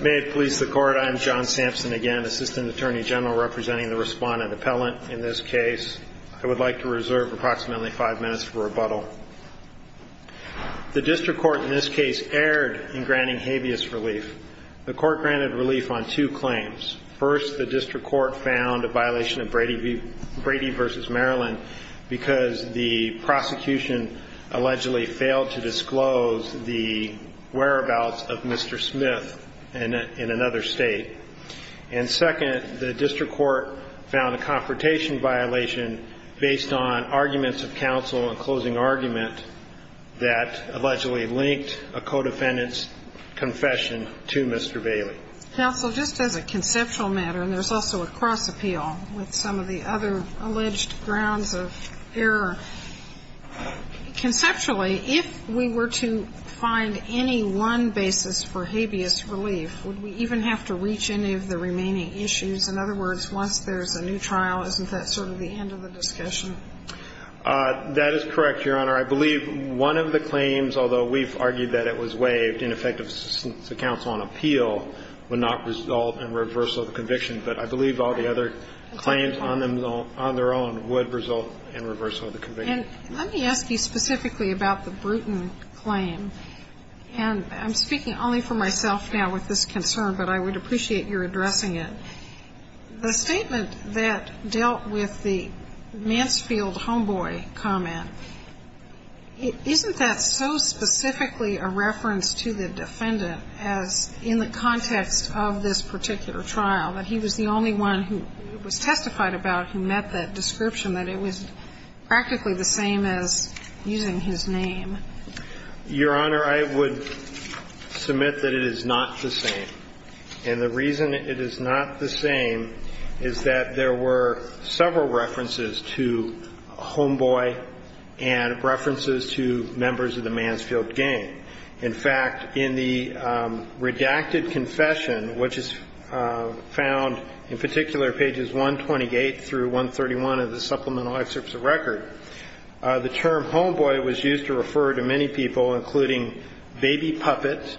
May it please the Court, I am John Sampson again, Assistant Attorney General representing the respondent appellant in this case. I would like to reserve approximately five minutes for rebuttal. The district court in this case erred in granting habeas relief. The court granted relief on two claims. First, the district court found a violation of Brady v. Maryland because the prosecution allegedly failed to disclose the whereabouts of Mr. Smith in another state. And second, the district court found a confrontation violation based on arguments of counsel in closing argument that allegedly linked a co-defendant's confession to Mr. Bailey. Counsel, just as a conceptual matter, and there's also a cross-appeal with some of the other alleged grounds of error, conceptually, if we were to find any one basis for habeas relief, would we even have to reach any of the remaining issues? In other words, once there's a new trial, isn't that sort of the end of the discussion? That is correct, Your Honor. I believe one of the claims, although we've argued that it was waived, in effect, since the counsel on appeal would not result in reversal of the conviction. But I believe all the other claims on their own would result in reversal of the conviction. And let me ask you specifically about the Bruton claim. And I'm speaking only for myself now with this concern, but I would appreciate your addressing it. The statement that dealt with the Mansfield homeboy comment, isn't that so specifically a reference to the defendant as in the context of this particular trial, that he was the only one who was testified about who met that description, that it was practically the same as using his name? Your Honor, I would submit that it is not the same. And the reason it is not the same is that there were several references to homeboy and references to members of the Mansfield gang. In fact, in the redacted confession, which is found in particular pages 128 through 131 of the Supplemental Excerpts of Record, the term homeboy was used to refer to many people, including Baby Puppet,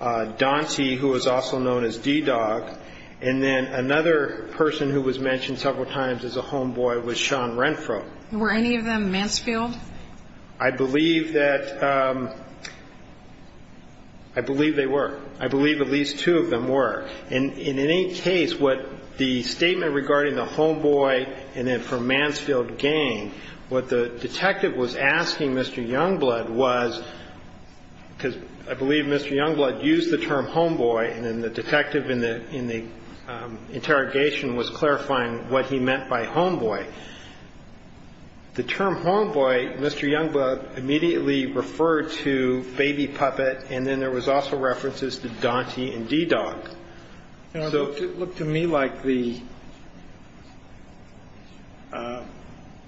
Dante, who was also known as D-Dog, and then another person who was mentioned several times as a homeboy was Sean Renfro. Were any of them Mansfield? I believe that they were. I believe at least two of them were. And in any case, what the statement regarding the homeboy and then for Mansfield gang, what the detective was asking Mr. Youngblood was, because I believe Mr. Youngblood used the term homeboy, and then the detective in the interrogation was clarifying what he meant by homeboy. The term homeboy, Mr. Youngblood immediately referred to Baby Puppet, and then there was also references to Dante and D-Dog. It looked to me like the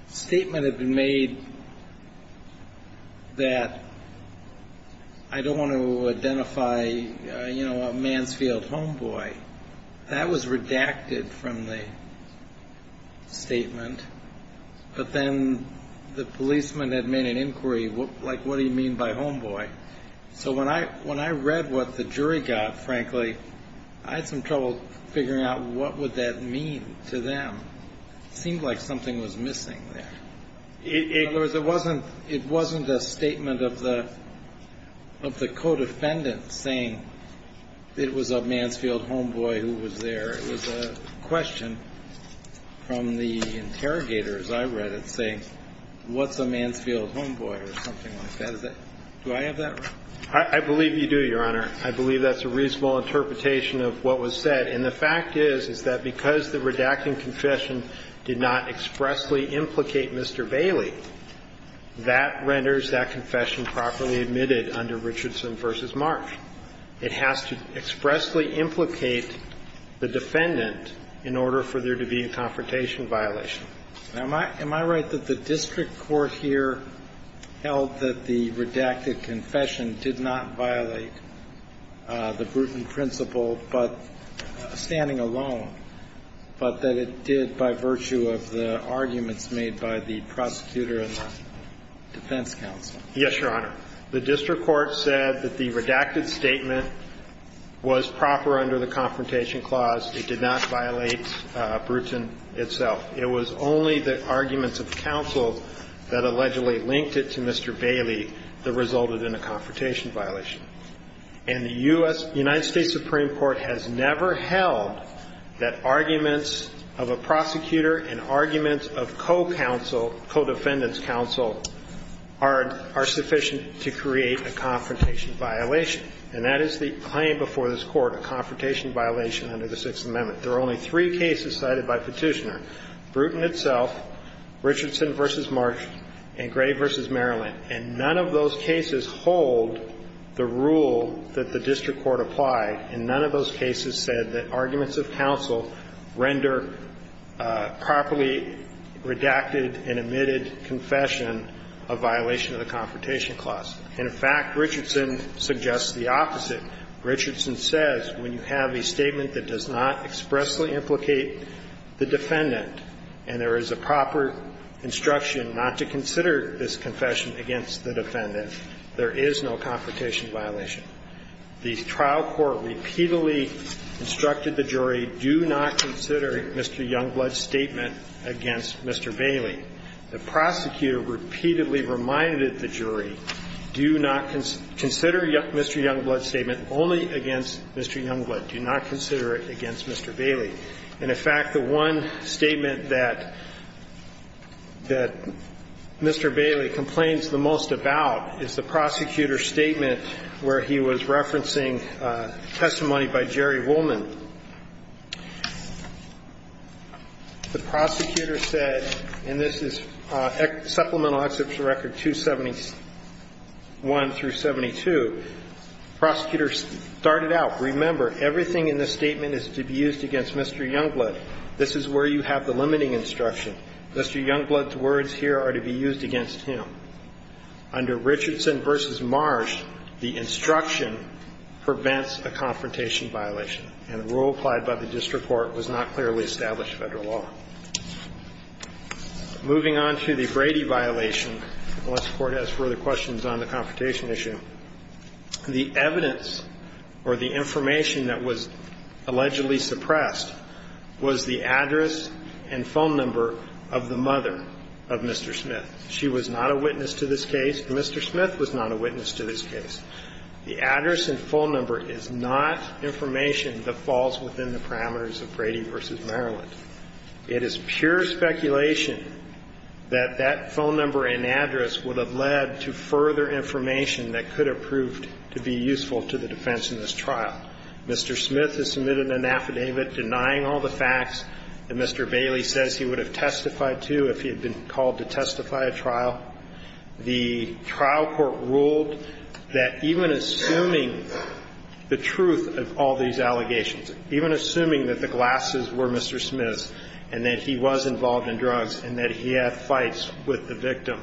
statement had been made that I don't want to identify a Mansfield homeboy. That was redacted from the statement. But then the policeman had made an inquiry, like, what do you mean by homeboy? So when I read what the jury got, frankly, I had some trouble figuring out what would that mean to them. It seemed like something was missing there. In other words, it wasn't a statement of the co-defendant saying it was a Mansfield homeboy who was there. It was a question from the interrogator, as I read it, saying what's a Mansfield homeboy or something like that. Do I have that right? I believe you do, Your Honor. I believe that's a reasonable interpretation of what was said. And the fact is, is that because the redacting confession did not expressly implicate Mr. Bailey, that renders that confession properly admitted under Richardson v. Marsh. It has to expressly implicate the defendant in order for there to be a confrontation violation. Now, am I right that the district court here held that the redacted confession did not violate the Bruton principle, but standing alone, but that it did by virtue of the arguments made by the prosecutor and the defense counsel? Yes, Your Honor. The district court said that the redacted statement was proper under the confrontation clause. It did not violate Bruton itself. It was only the arguments of counsel that allegedly linked it to Mr. Bailey that resulted in a confrontation violation. And the U.S. – United States Supreme Court has never held that arguments of a prosecutor and arguments of co-counsel, co-defendant's counsel are sufficient to create a confrontation violation. And that is the claim before this Court, a confrontation violation under the Sixth Amendment. There are only three cases cited by Petitioner, Bruton itself, Richardson v. Marsh, and Gray v. Maryland. And none of those cases hold the rule that the district court applied, and none of those cases said that arguments of counsel render properly redacted and admitted confession a violation of the confrontation clause. And, in fact, Richardson suggests the opposite. Richardson says when you have a statement that does not expressly implicate the defendant and there is a proper instruction not to consider this confession against the defendant, there is no confrontation violation. The trial court repeatedly instructed the jury, do not consider Mr. Youngblood's statement against Mr. Bailey. The prosecutor repeatedly reminded the jury, do not consider Mr. Youngblood's statement only against Mr. Youngblood. Do not consider it against Mr. Bailey. And, in fact, the one statement that Mr. Bailey complains the most about is the prosecutor's statement where he was referencing testimony by Jerry Woolman. The prosecutor said, and this is supplemental excerpts of record 271 through 72, the And the rule applied by the district court was not clearly established Federal law. Moving on to the Brady violation, unless the Court has further questions on the confrontation It is pure speculation that the phone number and address, or the information that was allegedly suppressed, was the address and phone number of the mother of Mr. Smith. She was not a witness to this case. Mr. Smith was not a witness to this case. The address and phone number is not information that falls within the parameters of Brady v. Maryland. It is pure speculation that that phone number and address would have led to further information that could have proved to be useful to the defense in this trial. Mr. Smith has submitted an affidavit denying all the facts that Mr. Bailey says he would have testified to if he had been called to testify at trial. The trial court ruled that even assuming the truth of all these allegations, even assuming that the glasses were Mr. Smith's and that he was involved in drugs and that he had fights with the victim,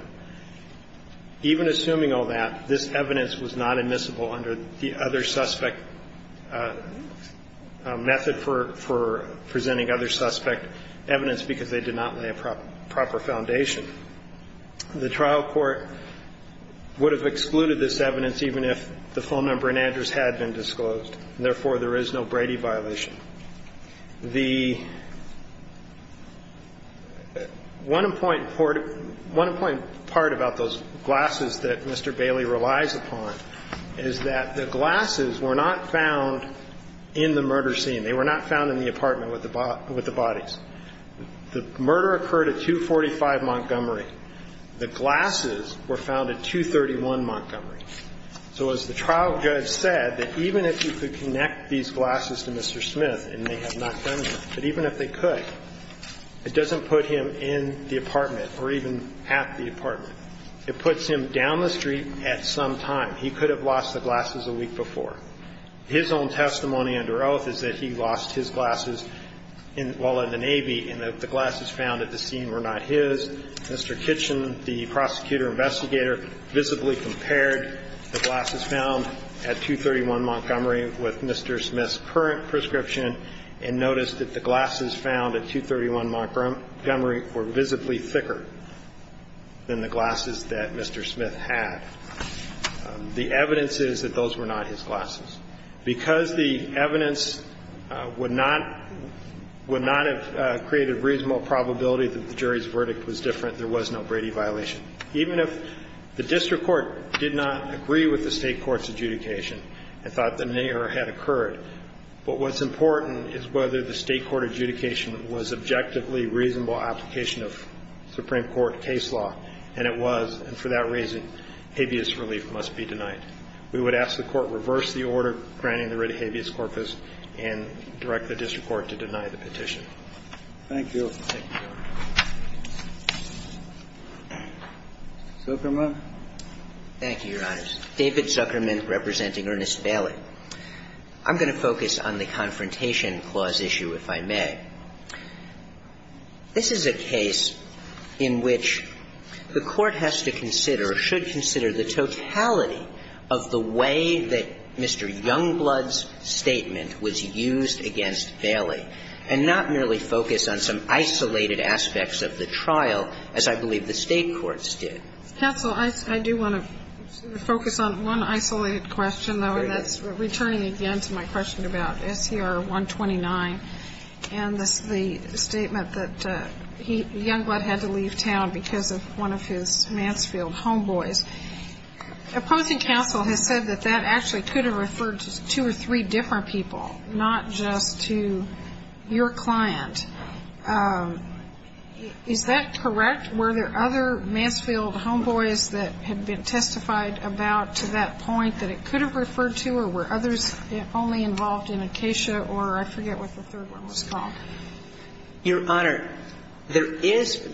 even assuming all that, this evidence was not admissible under the other suspect method for presenting other suspect evidence because they did not lay a proper foundation. The trial court would have excluded this evidence even if the phone number and address had been disclosed. Therefore, there is no Brady violation. The one important part about those glasses that Mr. Bailey relies upon is that the glasses were not found in the murder scene. They were not found in the apartment with the bodies. The murder occurred at 245 Montgomery. The glasses were found at 231 Montgomery. So as the trial judge said, that even if you could connect these glasses to Mr. Smith, and they have not done that, but even if they could, it doesn't put him in the apartment or even at the apartment. It puts him down the street at some time. He could have lost the glasses a week before. His own testimony under oath is that he lost his glasses while in the Navy and that the glasses found at the scene were not his. Mr. Kitchen, the prosecutor-investigator, visibly compared the glasses found at 231 Montgomery with Mr. Smith's current prescription and noticed that the glasses found at 231 Montgomery were visibly thicker than the glasses that Mr. Smith had. The evidence is that those were not his glasses. Because the evidence would not have created reasonable probability that the jury's verdict was different, there was no Brady violation. Even if the district court did not agree with the state court's adjudication and thought that an error had occurred, but what's important is whether the state court adjudication was objectively reasonable application of Supreme Court case law, and it was, and for that reason, habeas relief must be denied. We would ask the Court reverse the order granting the writ habeas corpus and direct the district court to deny the petition. Thank you. Thank you, Your Honor. Zuckerman. Thank you, Your Honors. David Zuckerman representing Ernest Bailey. I'm going to focus on the Confrontation Clause issue, if I may. This is a case in which the Court has to consider or should consider the totality of the way that Mr. Youngblood's statement was used against Bailey, and not merely focus on some isolated aspects of the trial as I believe the state courts did. Counsel, I do want to focus on one isolated question, though, and that's returning again to my question about SCR-129 and the statement that Youngblood had to leave town because of one of his Mansfield homeboys. Opposing counsel has said that that actually could have referred to two or three different people, not just to your client. Is that correct? Were there other Mansfield homeboys that had been testified about to that point that it could have referred to, or were others only involved in Acacia or I forget what the third one was called? Your Honor, there is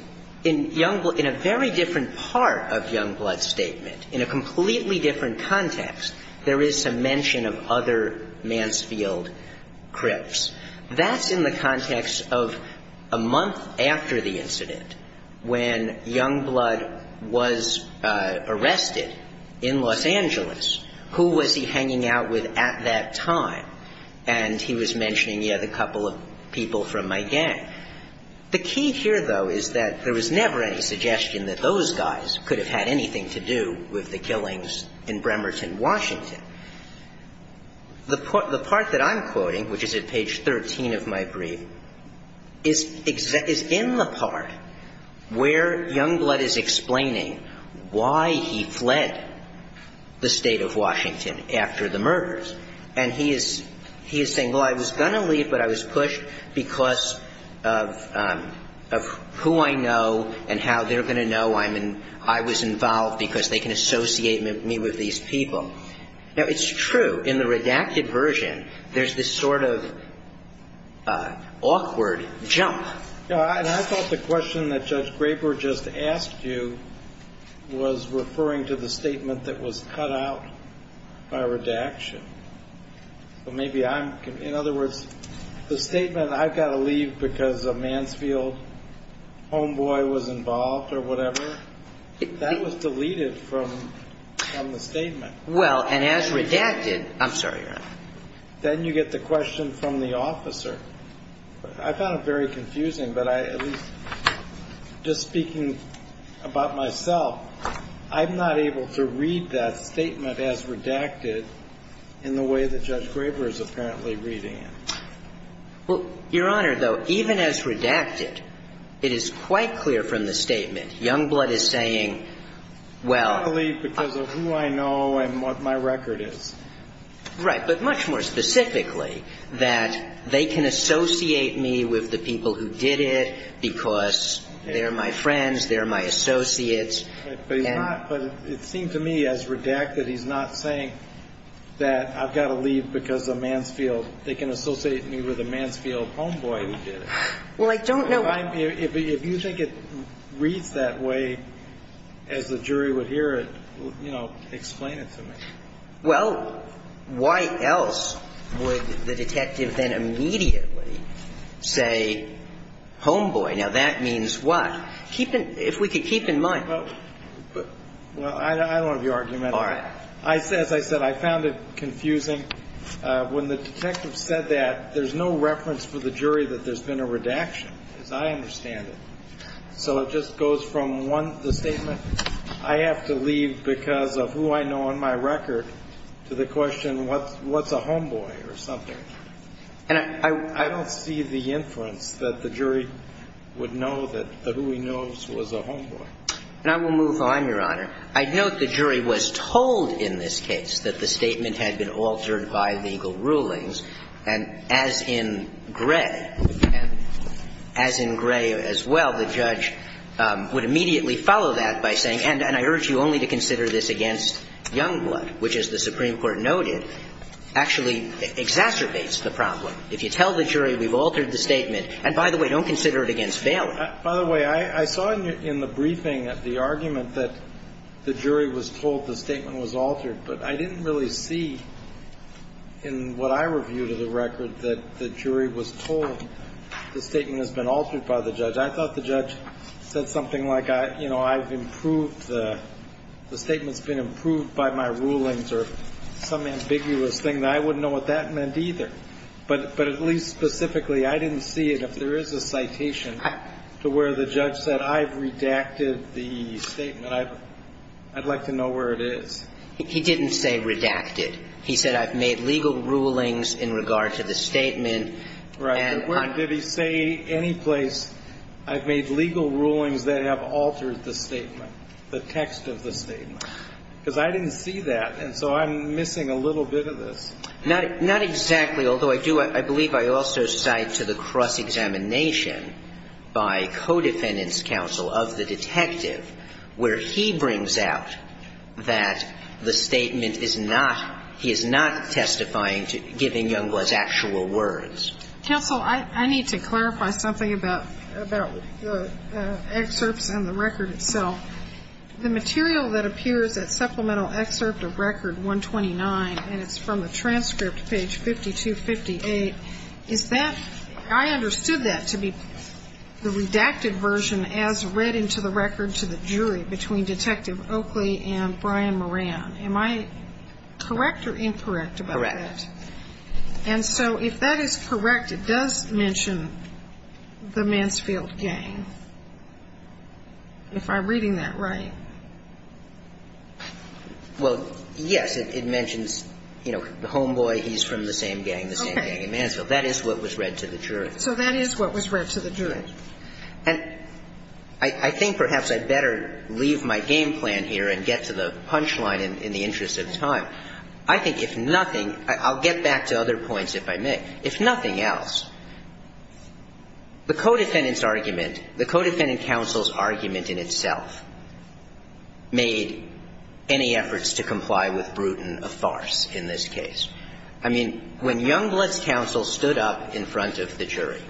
in Youngblood, in a very different part of Youngblood's statement, in a completely different context, there is a mention of other Mansfield crips. That's in the context of a month after the incident when Youngblood was arrested in Los Angeles. Who was he hanging out with at that time? And he was mentioning, yes, a couple of people from my gang. The key here, though, is that there was never any suggestion that those guys could have had anything to do with the killings in Bremerton, Washington. The part that I'm quoting, which is at page 13 of my brief, is in the part where he says, well, I was going to leave, but I was pushed because of who I know and how they're going to know I'm in – I was involved because they can associate me with these people. Now, it's true. In the redacted version, there's this sort of awkward jump. And I thought the question that Judge Graber just asked you was referring to the statement that was cut out by redaction. So maybe I'm – in other words, the statement, I've got to leave because a Mansfield homeboy was involved or whatever, that was deleted from the statement. Well, and as redacted – I'm sorry, Your Honor. Then you get the question from the officer. I found it very confusing, but I – at least just speaking about myself, I'm not able to read that statement as redacted in the way that Judge Graber is apparently reading it. Well, Your Honor, though, even as redacted, it is quite clear from the statement Youngblood is saying, well – I'm going to leave because of who I know and what my record is. Right. But much more specifically, that they can associate me with the people who did it because they're my friends, they're my associates. But he's not – but it seemed to me as redacted, he's not saying that I've got to leave because a Mansfield – they can associate me with a Mansfield homeboy who did it. Well, I don't know – If you think it reads that way as the jury would hear it, you know, explain it to me. Well, why else would the detective then immediately say homeboy? Now, that means what? If we could keep in mind – Well, I don't want to be argumentative. All right. As I said, I found it confusing. When the detective said that, there's no reference for the jury that there's been a redaction, as I understand it. So it just goes from one – the statement, I have to leave because of who I know and my record, to the question, what's a homeboy or something. And I – I don't see the inference that the jury would know that the who he knows was a homeboy. And I will move on, Your Honor. I note the jury was told in this case that the statement had been altered by legal rulings, and as in Gray, as in Gray as well, the judge would immediately follow that by saying, and I urge you only to consider this against Youngblood, which, as the Supreme Court noted, actually exacerbates the problem. If you tell the jury we've altered the statement, and by the way, don't consider it against Bailey. By the way, I saw in the briefing the argument that the jury was told the statement was altered, but I didn't really see in what I reviewed of the record that the jury was told the statement has been altered by the judge. I thought the judge said something like, you know, I've improved – the statement's been improved by my rulings or some ambiguous thing. I wouldn't know what that meant either. But at least specifically, I didn't see it. If there is a citation to where the judge said I've redacted the statement, I'd like to know where it is. He didn't say redacted. He said I've made legal rulings in regard to the statement. Right. But where did he say any place I've made legal rulings that have altered the statement, the text of the statement? Because I didn't see that, and so I'm missing a little bit of this. Not exactly, although I do – I believe I also cite to the cross-examination by co-defendant's counsel of the detective where he brings out that the statement is not – he is not testifying to giving Youngblood's actual words. Counsel, I need to clarify something about the excerpts and the record itself. The material that appears at supplemental excerpt of Record 129, and it's from the transcript, page 5258, is that – I understood that to be the redacted version as read into the record to the jury between Detective Oakley and Brian Moran. Am I correct or incorrect about that? Correct. And so if that is correct, it does mention the Mansfield gang, if I'm reading that right. Well, yes, it mentions, you know, the homeboy, he's from the same gang, the same gang in Mansfield. That is what was read to the jury. So that is what was read to the jury. And I think perhaps I'd better leave my game plan here and get to the punchline in the interest of time. I think if nothing – I'll get back to other points if I may. If nothing else, the co-defendant's argument, the co-defendant counsel's argument in itself made any efforts to comply with Bruton a farce in this case. I mean, when Youngblood's counsel stood up in front of the jury,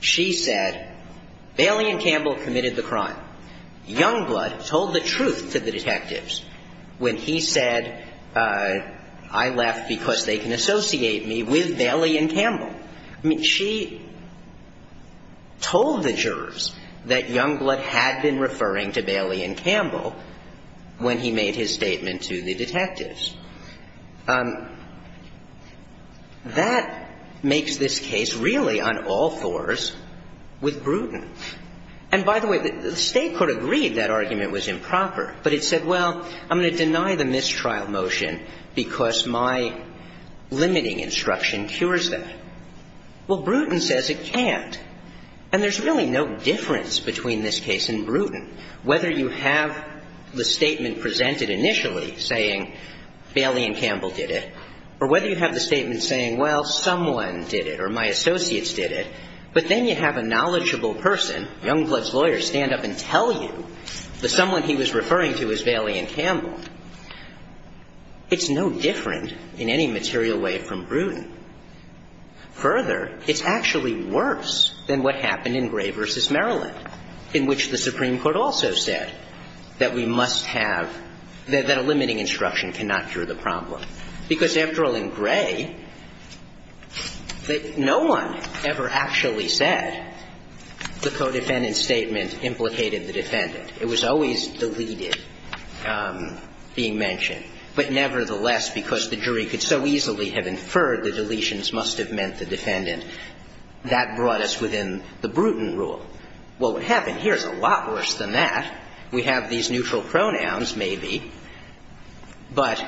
she said, Bailey and Campbell committed the crime. Youngblood told the truth to the detectives when he said, I left because they can associate me with Bailey and Campbell. I mean, she told the jurors that Youngblood had been referring to Bailey and Campbell when he made his statement to the detectives. That makes this case really on all fours with Bruton. And by the way, the State court agreed that argument was improper, but it said, well, I'm going to deny the mistrial motion because my limiting instruction cures that. Well, Bruton says it can't. And there's really no difference between this case and Bruton, whether you have the statement presented initially saying Bailey and Campbell did it or whether you have the statement saying, well, someone did it or my associates did it, but then you have a knowledgeable person, Youngblood's lawyer, stand up and tell you that someone he was referring to is Bailey and Campbell. It's no different in any material way from Bruton. Further, it's actually worse than what happened in Gray v. Maryland, in which the Supreme Court also said that we must have – that a limiting instruction cannot cure the problem. Because after all, in Gray, no one ever actually said the co-defendant's statement implicated the defendant. It was always deleted, being mentioned. But nevertheless, because the jury could so easily have inferred the deletions must have meant the defendant, that brought us within the Bruton rule. Well, what happened here is a lot worse than that. We have these neutral pronouns, maybe, but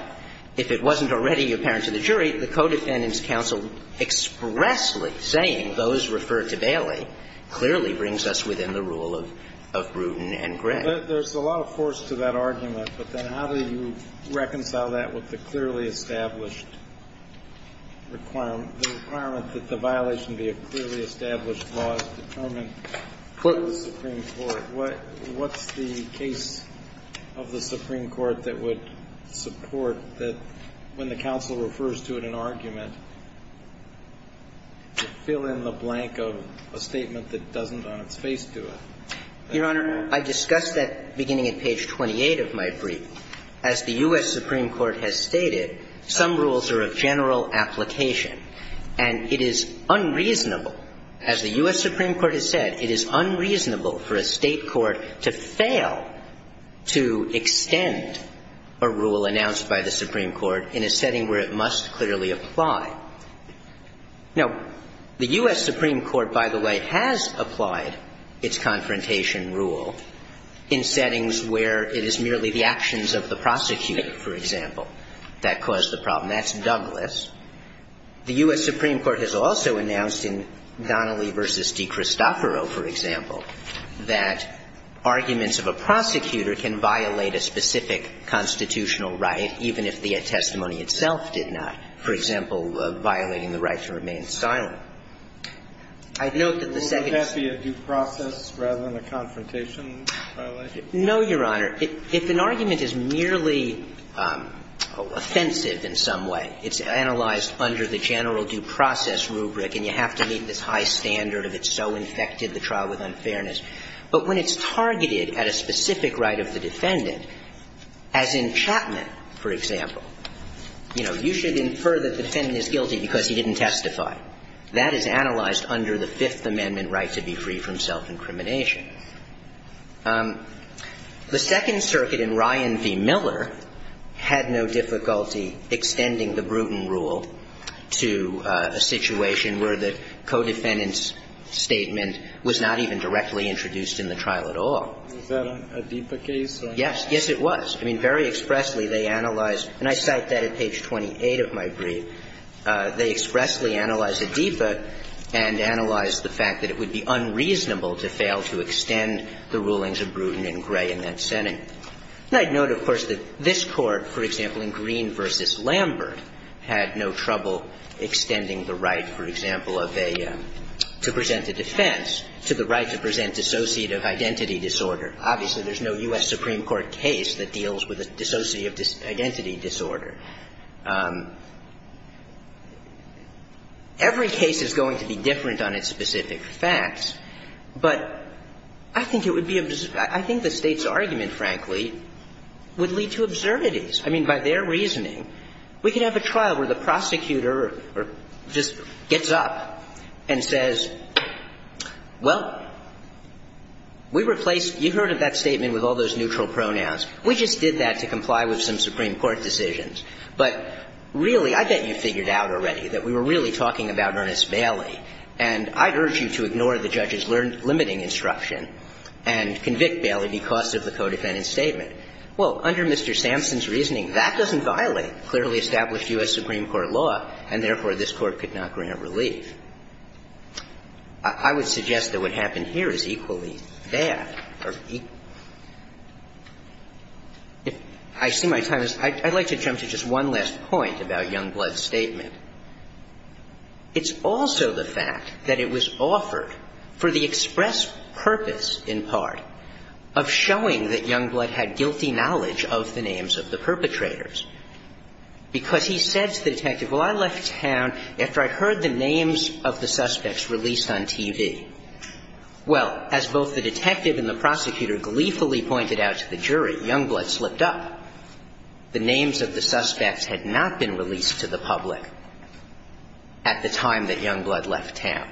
if it wasn't already apparent to the jury, the co-defendant's counsel expressly saying those referred to Bailey clearly brings us within the rule of Bruton and Gray. There's a lot of force to that argument, but then how do you reconcile that with the clearly established requirement that the violation be a clearly established law as determined by the Supreme Court? What's the case of the Supreme Court that would support that when the counsel Your Honor, I discussed that beginning at page 28 of my brief. As the U.S. Supreme Court has stated, some rules are of general application. And it is unreasonable, as the U.S. Supreme Court has said, it is unreasonable for a State court to fail to extend a rule announced by the Supreme Court in a setting where it must clearly apply. Now, the U.S. Supreme Court, by the way, has applied its confrontation rule in settings where it is merely the actions of the prosecutor, for example, that cause the problem. That's Douglas. The U.S. Supreme Court has also announced in Donnelly v. DiCristoforo, for example, that arguments of a prosecutor can violate a specific constitutional right even if the testimony itself did not. For example, violating the right to remain silent. I note that the second Would that be a due process rather than a confrontation violation? No, Your Honor. If an argument is merely offensive in some way, it's analyzed under the general due process rubric, and you have to meet this high standard of it's so infected the trial with unfairness. But when it's targeted at a specific right of the defendant, as in Chapman, for example, you know, you should infer the defendant is guilty because he didn't testify. That is analyzed under the Fifth Amendment right to be free from self-incrimination. The Second Circuit in Ryan v. Miller had no difficulty extending the Bruton rule to a situation where the co-defendant's statement was not even directly introduced in the trial at all. Is that a deeper case? Yes. Yes, it was. I mean, very expressly, they analyzed, and I cite that at page 28 of my brief, they expressly analyzed a defect and analyzed the fact that it would be unreasonable to fail to extend the rulings of Bruton and Gray in that setting. And I'd note, of course, that this Court, for example, in Green v. Lambert, had no trouble extending the right, for example, of a to present a defense to the right to present dissociative identity disorder. Obviously, there's no U.S. Supreme Court case that deals with a dissociative identity disorder. Every case is going to be different on its specific facts, but I think it would be – I think the State's argument, frankly, would lead to absurdities. I mean, by their reasoning, we could have a trial where the prosecutor just gets up and says, well, we replaced – you heard of that statement with all those neutral pronouns. We just did that to comply with some Supreme Court decisions. But really, I bet you figured out already that we were really talking about Ernest Bailey, and I'd urge you to ignore the judge's limiting instruction and convict Bailey because of the co-defendant's statement. Well, under Mr. Sampson's reasoning, that doesn't violate clearly established U.S. Supreme Court law, and therefore, this Court could not grant relief. I would suggest that what happened here is equally bad. If I see my time is – I'd like to jump to just one last point about Youngblood's statement. It's also the fact that it was offered for the express purpose, in part, of showing that Youngblood had guilty knowledge of the names of the perpetrators because he said to the detective, well, I left town after I heard the names of the suspects released on TV. Well, as both the detective and the prosecutor gleefully pointed out to the jury, Youngblood slipped up. The names of the suspects had not been released to the public at the time that Youngblood left town.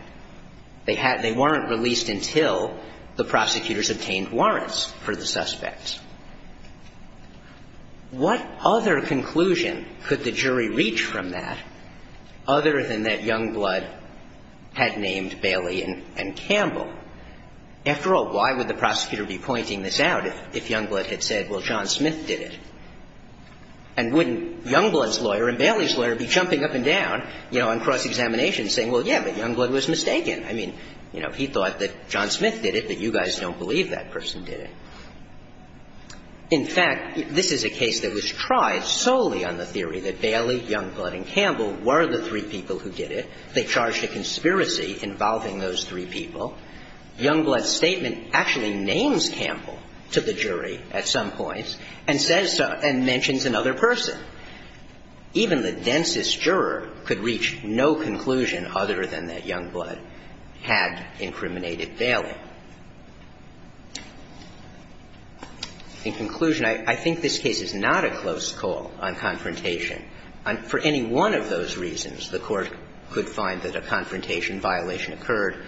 They weren't released until the prosecutors obtained warrants for the suspects. What other conclusion could the jury reach from that other than that Youngblood had named Bailey and Campbell? After all, why would the prosecutor be pointing this out if Youngblood had said, well, John Smith did it? And wouldn't Youngblood's lawyer and Bailey's lawyer be jumping up and down, you know, on cross-examination saying, well, yeah, but Youngblood was mistaken? I mean, you know, he thought that John Smith did it, but you guys don't believe that person did it. In fact, this is a case that was tried solely on the theory that Bailey, Youngblood and Campbell were the three people who did it. They charged a conspiracy involving those three people. Youngblood's statement actually names Campbell to the jury at some points and says and mentions another person. Even the densest juror could reach no conclusion other than that Youngblood had incriminated Bailey. In conclusion, I think this case is not a close call on confrontation. For any one of those reasons, the Court could find that a confrontation violation occurred,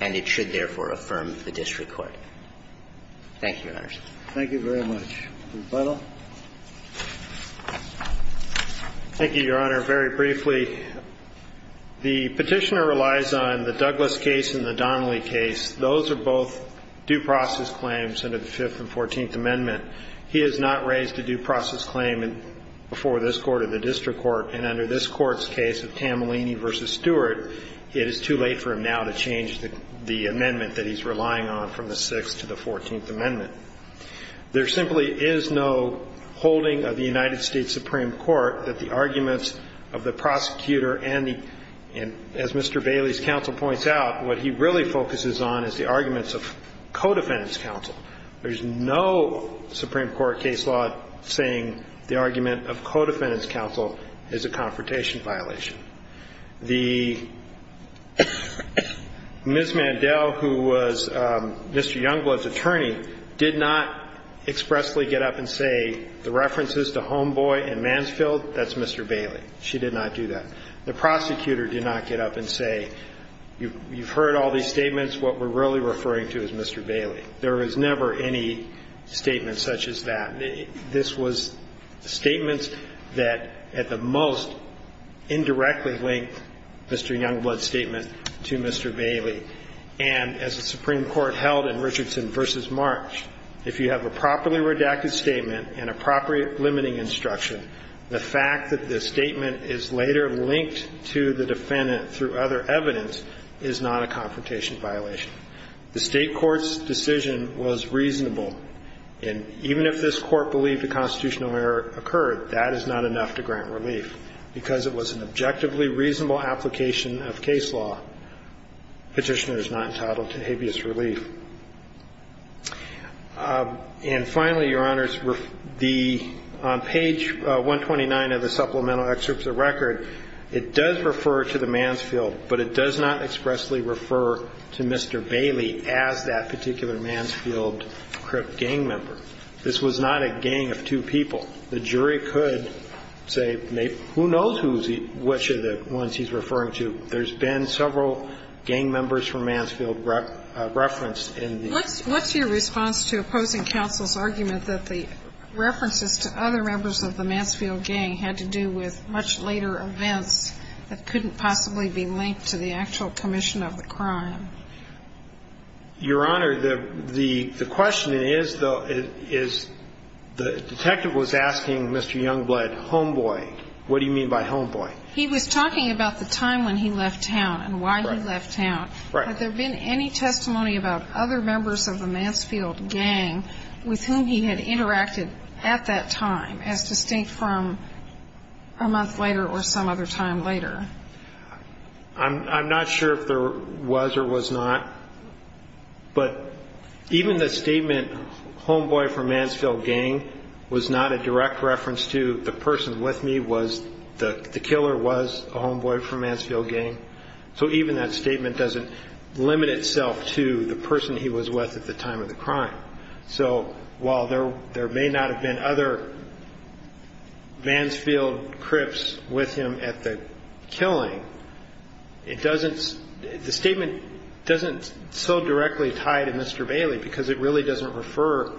and it should, therefore, affirm the district court. Thank you, Your Honors. Thank you very much. Mr. Butler. Thank you, Your Honor. Very briefly, the Petitioner relies on the Douglas case and the Donnelly case. Those are both due process claims under the Fifth and Fourteenth Amendment. He has not raised a due process claim before this Court or the district court, and under this Court's case of Tamalini v. Stewart, it is too late for him now to change the amendment that he's relying on from the Sixth to the Fourteenth Amendment. There simply is no holding of the United States Supreme Court that the arguments of the prosecutor and, as Mr. Bailey's counsel points out, what he really focuses on is the arguments of co-defendant's counsel. There's no Supreme Court case law saying the argument of co-defendant's counsel is a confrontation violation. The Ms. Mandel, who was Mr. Youngblood's attorney, did not expressly get up and say, the references to Homeboy and Mansfield, that's Mr. Bailey. She did not do that. The prosecutor did not get up and say, you've heard all these statements. What we're really referring to is Mr. Bailey. There was never any statement such as that. This was statements that at the most indirectly linked Mr. Youngblood's statement to Mr. Bailey. And as the Supreme Court held in Richardson v. March, if you have a properly redacted statement and a properly limiting instruction, the fact that the statement is later linked to the defendant through other evidence is not a confrontation violation. The State Court's decision was reasonable. And even if this Court believed a constitutional error occurred, that is not enough to grant relief. Because it was an objectively reasonable application of case law, Petitioner is not entitled to habeas relief. And finally, Your Honors, on page 129 of the supplemental excerpts of the record, it does refer to the Mansfield, but it does not expressly refer to Mr. Bailey as that particular Mansfield gang member. This was not a gang of two people. The jury could say, who knows which of the ones he's referring to. And that's why I'm asking you what's your response to opposing counsel's argument that the references to other members of the Mansfield gang had to do with much later events that couldn't possibly be linked to the actual commission of the crime? Your Honor, the question is, though, is the detective was asking Mr. Youngblood, homeboy, what do you mean by homeboy? He was talking about the time when he left town and why he left town. Right. Had there been any testimony about other members of the Mansfield gang with whom he had interacted at that time as distinct from a month later or some other time later? I'm not sure if there was or was not. But even the statement, homeboy from Mansfield gang, was not a direct reference to the person with me. The killer was a homeboy from Mansfield gang. So even that statement doesn't limit itself to the person he was with at the time of the crime. So while there may not have been other Mansfield crips with him at the killing, the statement doesn't so directly tie to Mr. Bailey because it really doesn't refer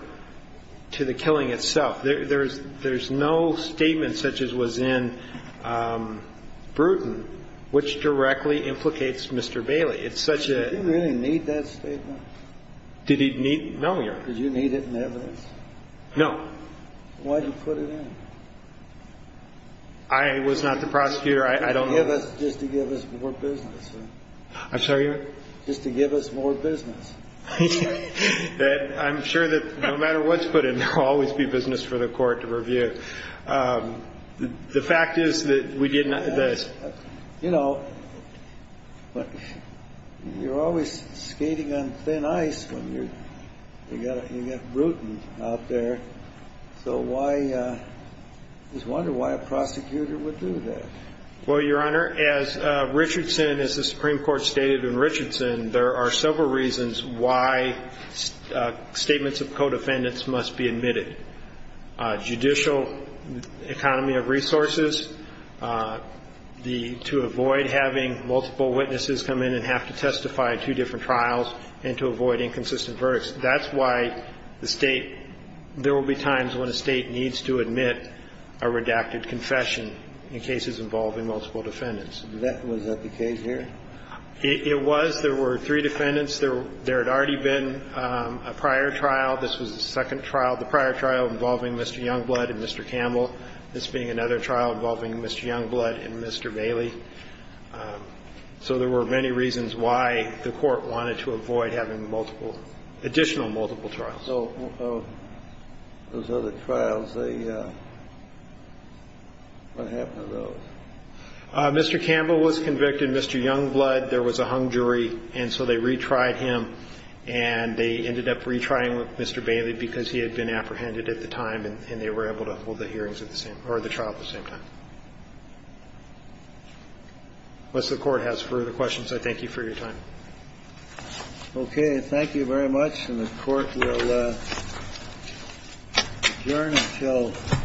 to the killing itself. There's no statement such as was in Bruton which directly implicates Mr. Bailey. It's such a – Did he really need that statement? Did he need – no, Your Honor. Did you need it in evidence? No. Why did you put it in? I was not the prosecutor. I don't know – Just to give us more business. I'm sorry? Just to give us more business. I'm sure that no matter what's put in, there will always be business for the court to review. The fact is that we did not – You know, you're always skating on thin ice when you get Bruton out there. So why – I just wonder why a prosecutor would do that. Well, Your Honor, as Richardson, as the Supreme Court stated in Richardson, there are several reasons why statements of co-defendants must be admitted. Judicial economy of resources, to avoid having multiple witnesses come in and have to testify at two different trials, and to avoid inconsistent verdicts. That's why the State – there will be times when a State needs to admit a redacted confession in cases involving multiple defendants. Was that the case here? It was. There were three defendants. There had already been a prior trial. This was the second trial. The prior trial involving Mr. Youngblood and Mr. Campbell. This being another trial involving Mr. Youngblood and Mr. Bailey. So there were many reasons why the court wanted to avoid having multiple – additional multiple trials. So those other trials, they – what happened to those? Mr. Campbell was convicted. Mr. Youngblood, there was a hung jury, and so they retried him, and they ended up retrying Mr. Bailey because he had been apprehended at the time, and they were able to hold the hearings at the same – or the trial at the same time. Unless the Court has further questions, I thank you for your time. Okay. Thank you very much. And the Court will adjourn until 10 a.m.